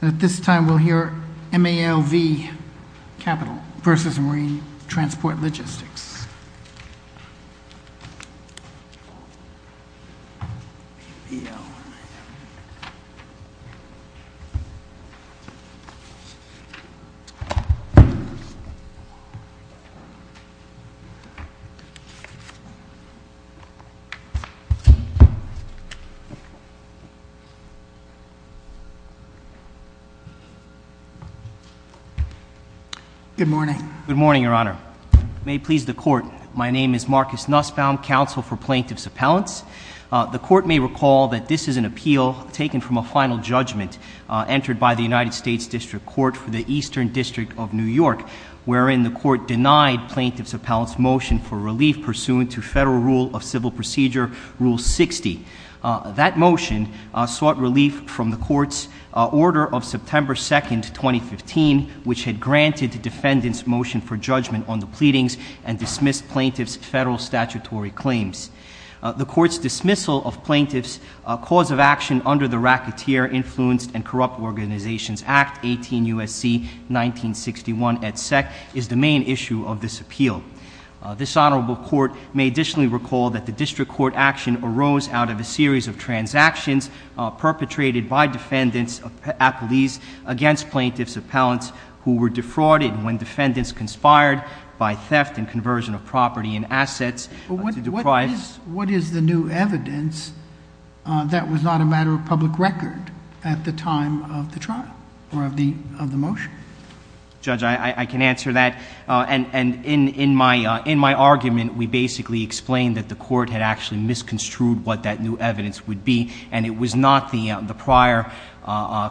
At this time, we'll hear MALV Capital v. Marine Transport Logistics. Good morning. Good morning, Your Honor. May it please the Court, my name is Marcus Nussbaum, Counsel for Plaintiffs' Appellants. The Court may recall that this is an appeal taken from a final judgment entered by the United States District Court for the Eastern District of New York, wherein the Court denied Plaintiffs' Appellants' motion for relief pursuant to Federal Rule of Civil Procedure Rule 60. That motion sought relief from the Court's Order of September 2, 2015, which had granted the Defendant's motion for judgment on the pleadings and dismissed Plaintiffs' federal statutory claims. The Court's dismissal of Plaintiffs' cause of action under the Racketeer Influenced and Corrupt Organizations Act 18 U.S.C. 1961 et sec. is the main issue of this appeal. This Honorable Court may additionally recall that the District Court action arose out of a series of transactions perpetrated by Defendants' appellees against Plaintiffs' Appellants, who were defrauded when Defendants conspired by theft and conversion of property and assets to deprive— What is the new evidence that was not a matter of public record at the time of the trial or of the motion? Judge, I can answer that. And in my argument, we basically explained that the Court had actually misconstrued what that new evidence would be, and it was not the prior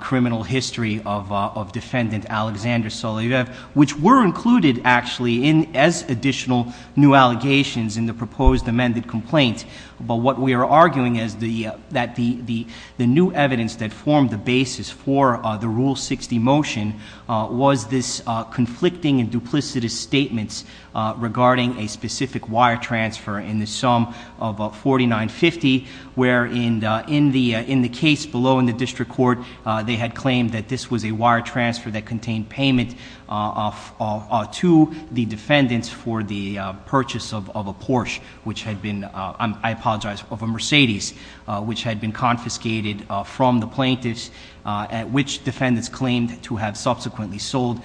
criminal history of Defendant Alexander Soloviev, which were included, actually, as additional new allegations in the proposed amended complaint. But what we are arguing is that the new evidence that formed the basis for the Rule 60 motion was this conflicting and duplicitous statement regarding a specific wire transfer in the sum of $49.50, where in the case below in the District Court, they had claimed that this was a wire transfer that contained payment to the Defendants for the purchase of a Porsche, which had been—I apologize—of a Mercedes, which had been confiscated from the Plaintiffs, which Defendants claimed to have subsequently sold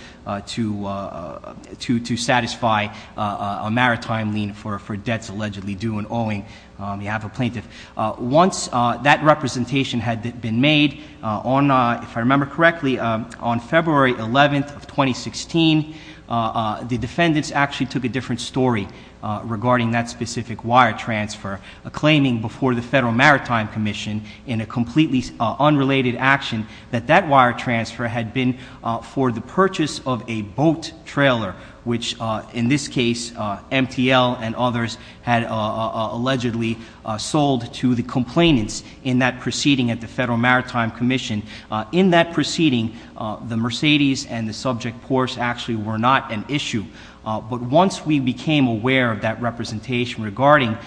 to satisfy a maritime lien for debts allegedly due in owing on behalf of Plaintiffs. Once that representation had been made, if I remember correctly, on February 11th of 2016, the Defendants actually took a different story regarding that specific wire transfer, claiming before the Federal Maritime Commission in a completely unrelated action that that wire transfer had been for the purchase of a boat trailer, which in this case, MTL and others had allegedly sold to the complainants in that proceeding at the Federal Maritime Commission. In that proceeding, the Mercedes and the subject Porsche actually were not an issue. But once we became aware of that representation regarding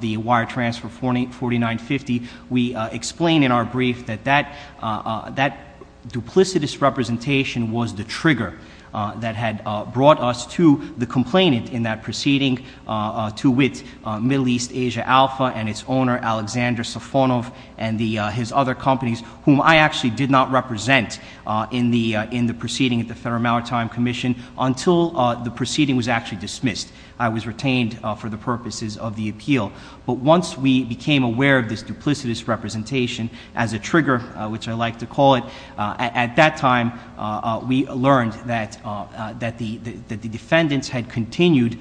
the wire transfer $49.50, we explained in our brief that that duplicitous representation was the trigger that had brought us to the complainant in that proceeding, to wit, Middle East Asia Alpha and its owner, Alexander Safonov, and his other companies, whom I actually did not represent in the proceeding at the Federal Maritime Commission until the proceeding was actually dismissed. I was retained for the purposes of the appeal. But once we became aware of this duplicitous representation as a trigger, which I like to call it, at that time we learned that the Defendants had continued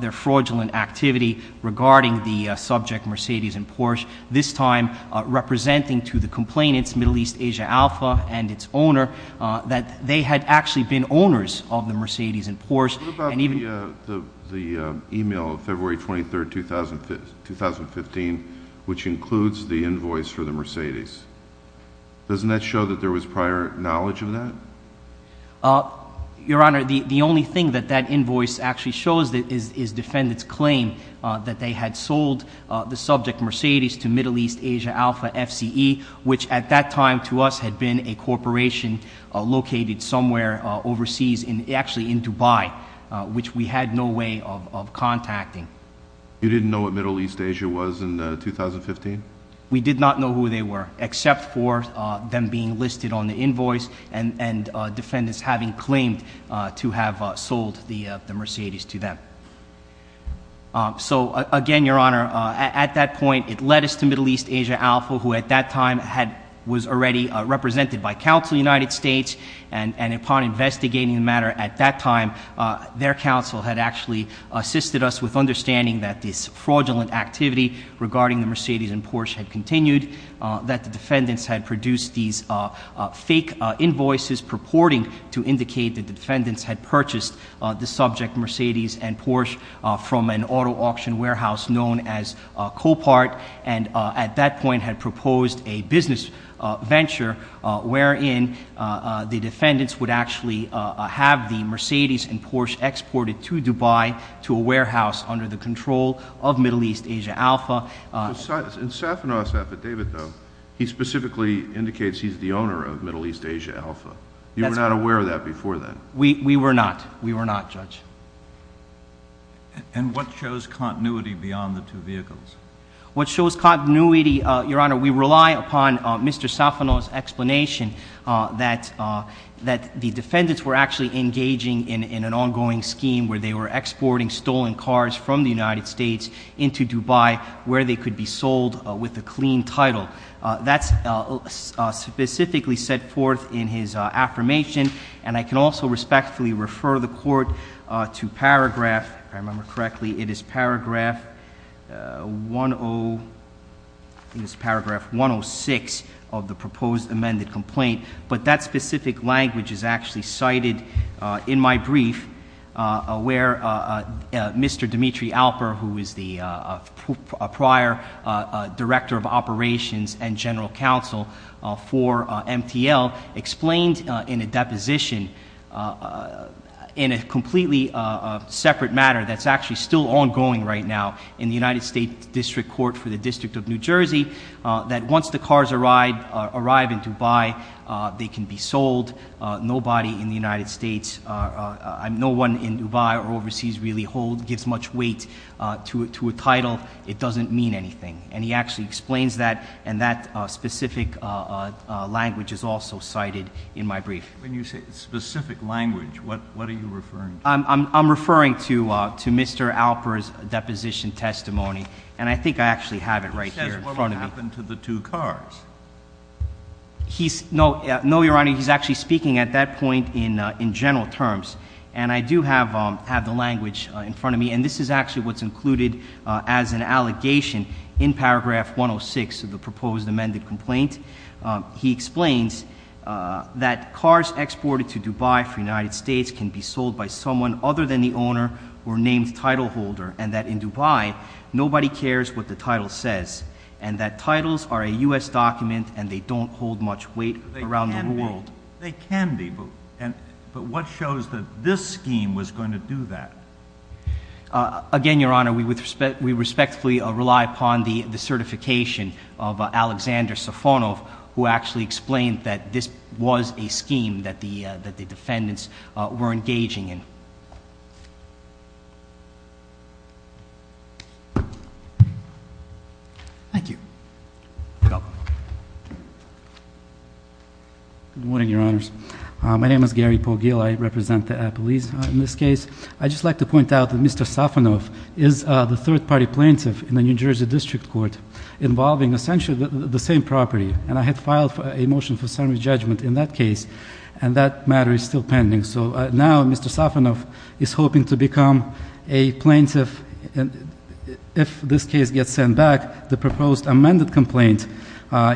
their fraudulent activity regarding the subject Mercedes and Porsche, this time representing to the complainants, Middle East Asia Alpha and its owner, that they had actually been owners of the Mercedes and Porsche. What about the email of February 23, 2015, which includes the invoice for the Mercedes? Doesn't that show that there was prior knowledge of that? Your Honor, the only thing that that invoice actually shows is Defendants' claim that they had sold the subject Mercedes to Middle East Asia Alpha FCE, which at that time to us had been a corporation located somewhere overseas, actually in Dubai, which we had no way of contacting. You didn't know what Middle East Asia was in 2015? We did not know who they were, except for them being listed on the invoice and Defendants having claimed to have sold the Mercedes to them. So again, Your Honor, at that point it led us to Middle East Asia Alpha, who at that time was already represented by counsel of the United States, and upon investigating the matter at that time, their counsel had actually assisted us with understanding that this fraudulent activity regarding the Mercedes and Porsche had continued, that the Defendants had produced these fake invoices purporting to indicate that the Defendants had purchased the subject Mercedes and Porsche from an auto auction warehouse known as Copart, and at that point had proposed a business venture wherein the Defendants would actually have the Mercedes and Porsche exported to Dubai to a warehouse under the control of Middle East Asia Alpha. In Safanoff's affidavit, though, he specifically indicates he's the owner of Middle East Asia Alpha. You were not aware of that before then? We were not. We were not, Judge. And what shows continuity beyond the two vehicles? What shows continuity, Your Honor, we rely upon Mr. Safanoff's explanation that the Defendants were actually engaging in an ongoing scheme where they were exporting stolen cars from the United States into Dubai where they could be sold with a clean title. That's specifically set forth in his affirmation, and I can also respectfully refer the Court to paragraph, if I remember correctly, it is paragraph 106 of the proposed amended complaint, but that specific language is actually cited in my brief where Mr. Dimitri Alper, who is the prior Director of Operations and General Counsel for MTL, explained in a deposition in a completely separate matter that's actually still ongoing right now in the United States District Court for the District of New Jersey that once the cars arrive in Dubai, they can be sold. Nobody in the United States, no one in Dubai or overseas really gives much weight to a title. It doesn't mean anything. And he actually explains that, and that specific language is also cited in my brief. When you say specific language, what are you referring to? I'm referring to Mr. Alper's deposition testimony, and I think I actually have it right here in front of me. It says what happened to the two cars. No, Your Honor, he's actually speaking at that point in general terms, and I do have the language in front of me, and this is actually what's included as an allegation in paragraph 106 of the proposed amended complaint. He explains that cars exported to Dubai for the United States can be sold by someone other than the owner or named title holder, and that in Dubai, nobody cares what the title says, and that titles are a U.S. document and they don't hold much weight around the world. They can be, but what shows that this scheme was going to do that? Again, Your Honor, we respectfully rely upon the certification of Alexander Safonov, who actually explained that this was a scheme that the defendants were engaging in. Thank you. You're welcome. Good morning, Your Honors. My name is Gary Pogiel. I represent the police in this case. I'd just like to point out that Mr. Safonov is the third-party plaintiff in the New Jersey District Court involving essentially the same property, and I had filed a motion for summary judgment in that case, and that matter is still pending. So now Mr. Safonov is hoping to become a plaintiff. If this case gets sent back, the proposed amended complaint,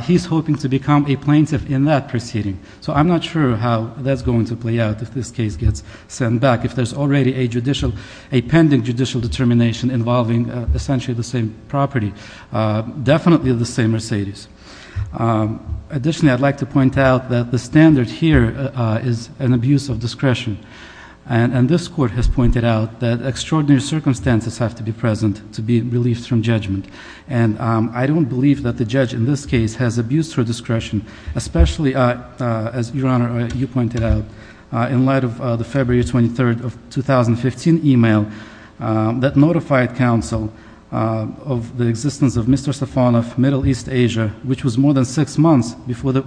he's hoping to become a plaintiff in that proceeding. So I'm not sure how that's going to play out if this case gets sent back, if there's already a judicial, a pending judicial determination involving essentially the same property, definitely the same Mercedes. Additionally, I'd like to point out that the standard here is an abuse of discretion, and this court has pointed out that extraordinary circumstances have to be present to be relieved from judgment, and I don't believe that the judge in this case has abused her discretion, especially, as Your Honor, you pointed out, in light of the February 23rd of 2015 email that notified counsel of the existence of Mr. Safonov, Middle East Asia, which was more than six months before the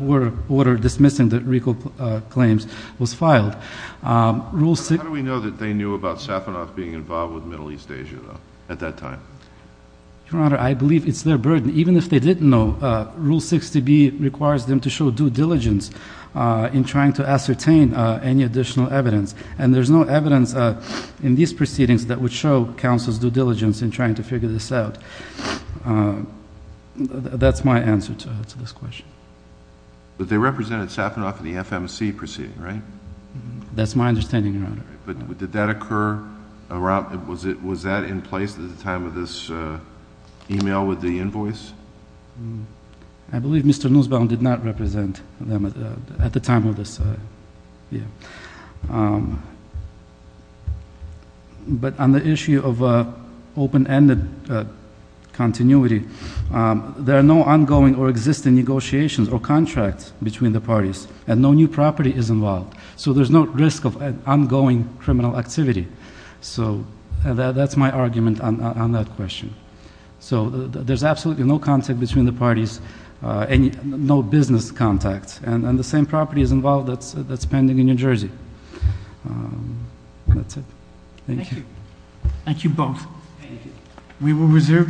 order dismissing the recall claims was filed. How do we know that they knew about Safonov being involved with Middle East Asia, though, at that time? Your Honor, I believe it's their burden. Even if they didn't know, Rule 60B requires them to show due diligence in trying to ascertain any additional evidence, and there's no evidence in these proceedings that would show counsel's due diligence in trying to figure this out. That's my answer to this question. But they represented Safonov in the FMC proceeding, right? That's my understanding, Your Honor. But did that occur? Was that in place at the time of this email with the invoice? I believe Mr. Nussbaum did not represent them at the time of this email. But on the issue of open-ended continuity, there are no ongoing or existing negotiations or contracts between the parties, and no new property is involved. So there's no risk of ongoing criminal activity. So that's my argument on that question. So there's absolutely no contact between the parties, no business contacts, and the same property is involved that's pending in New Jersey. That's it. Thank you. Thank you both. We will reserve decision.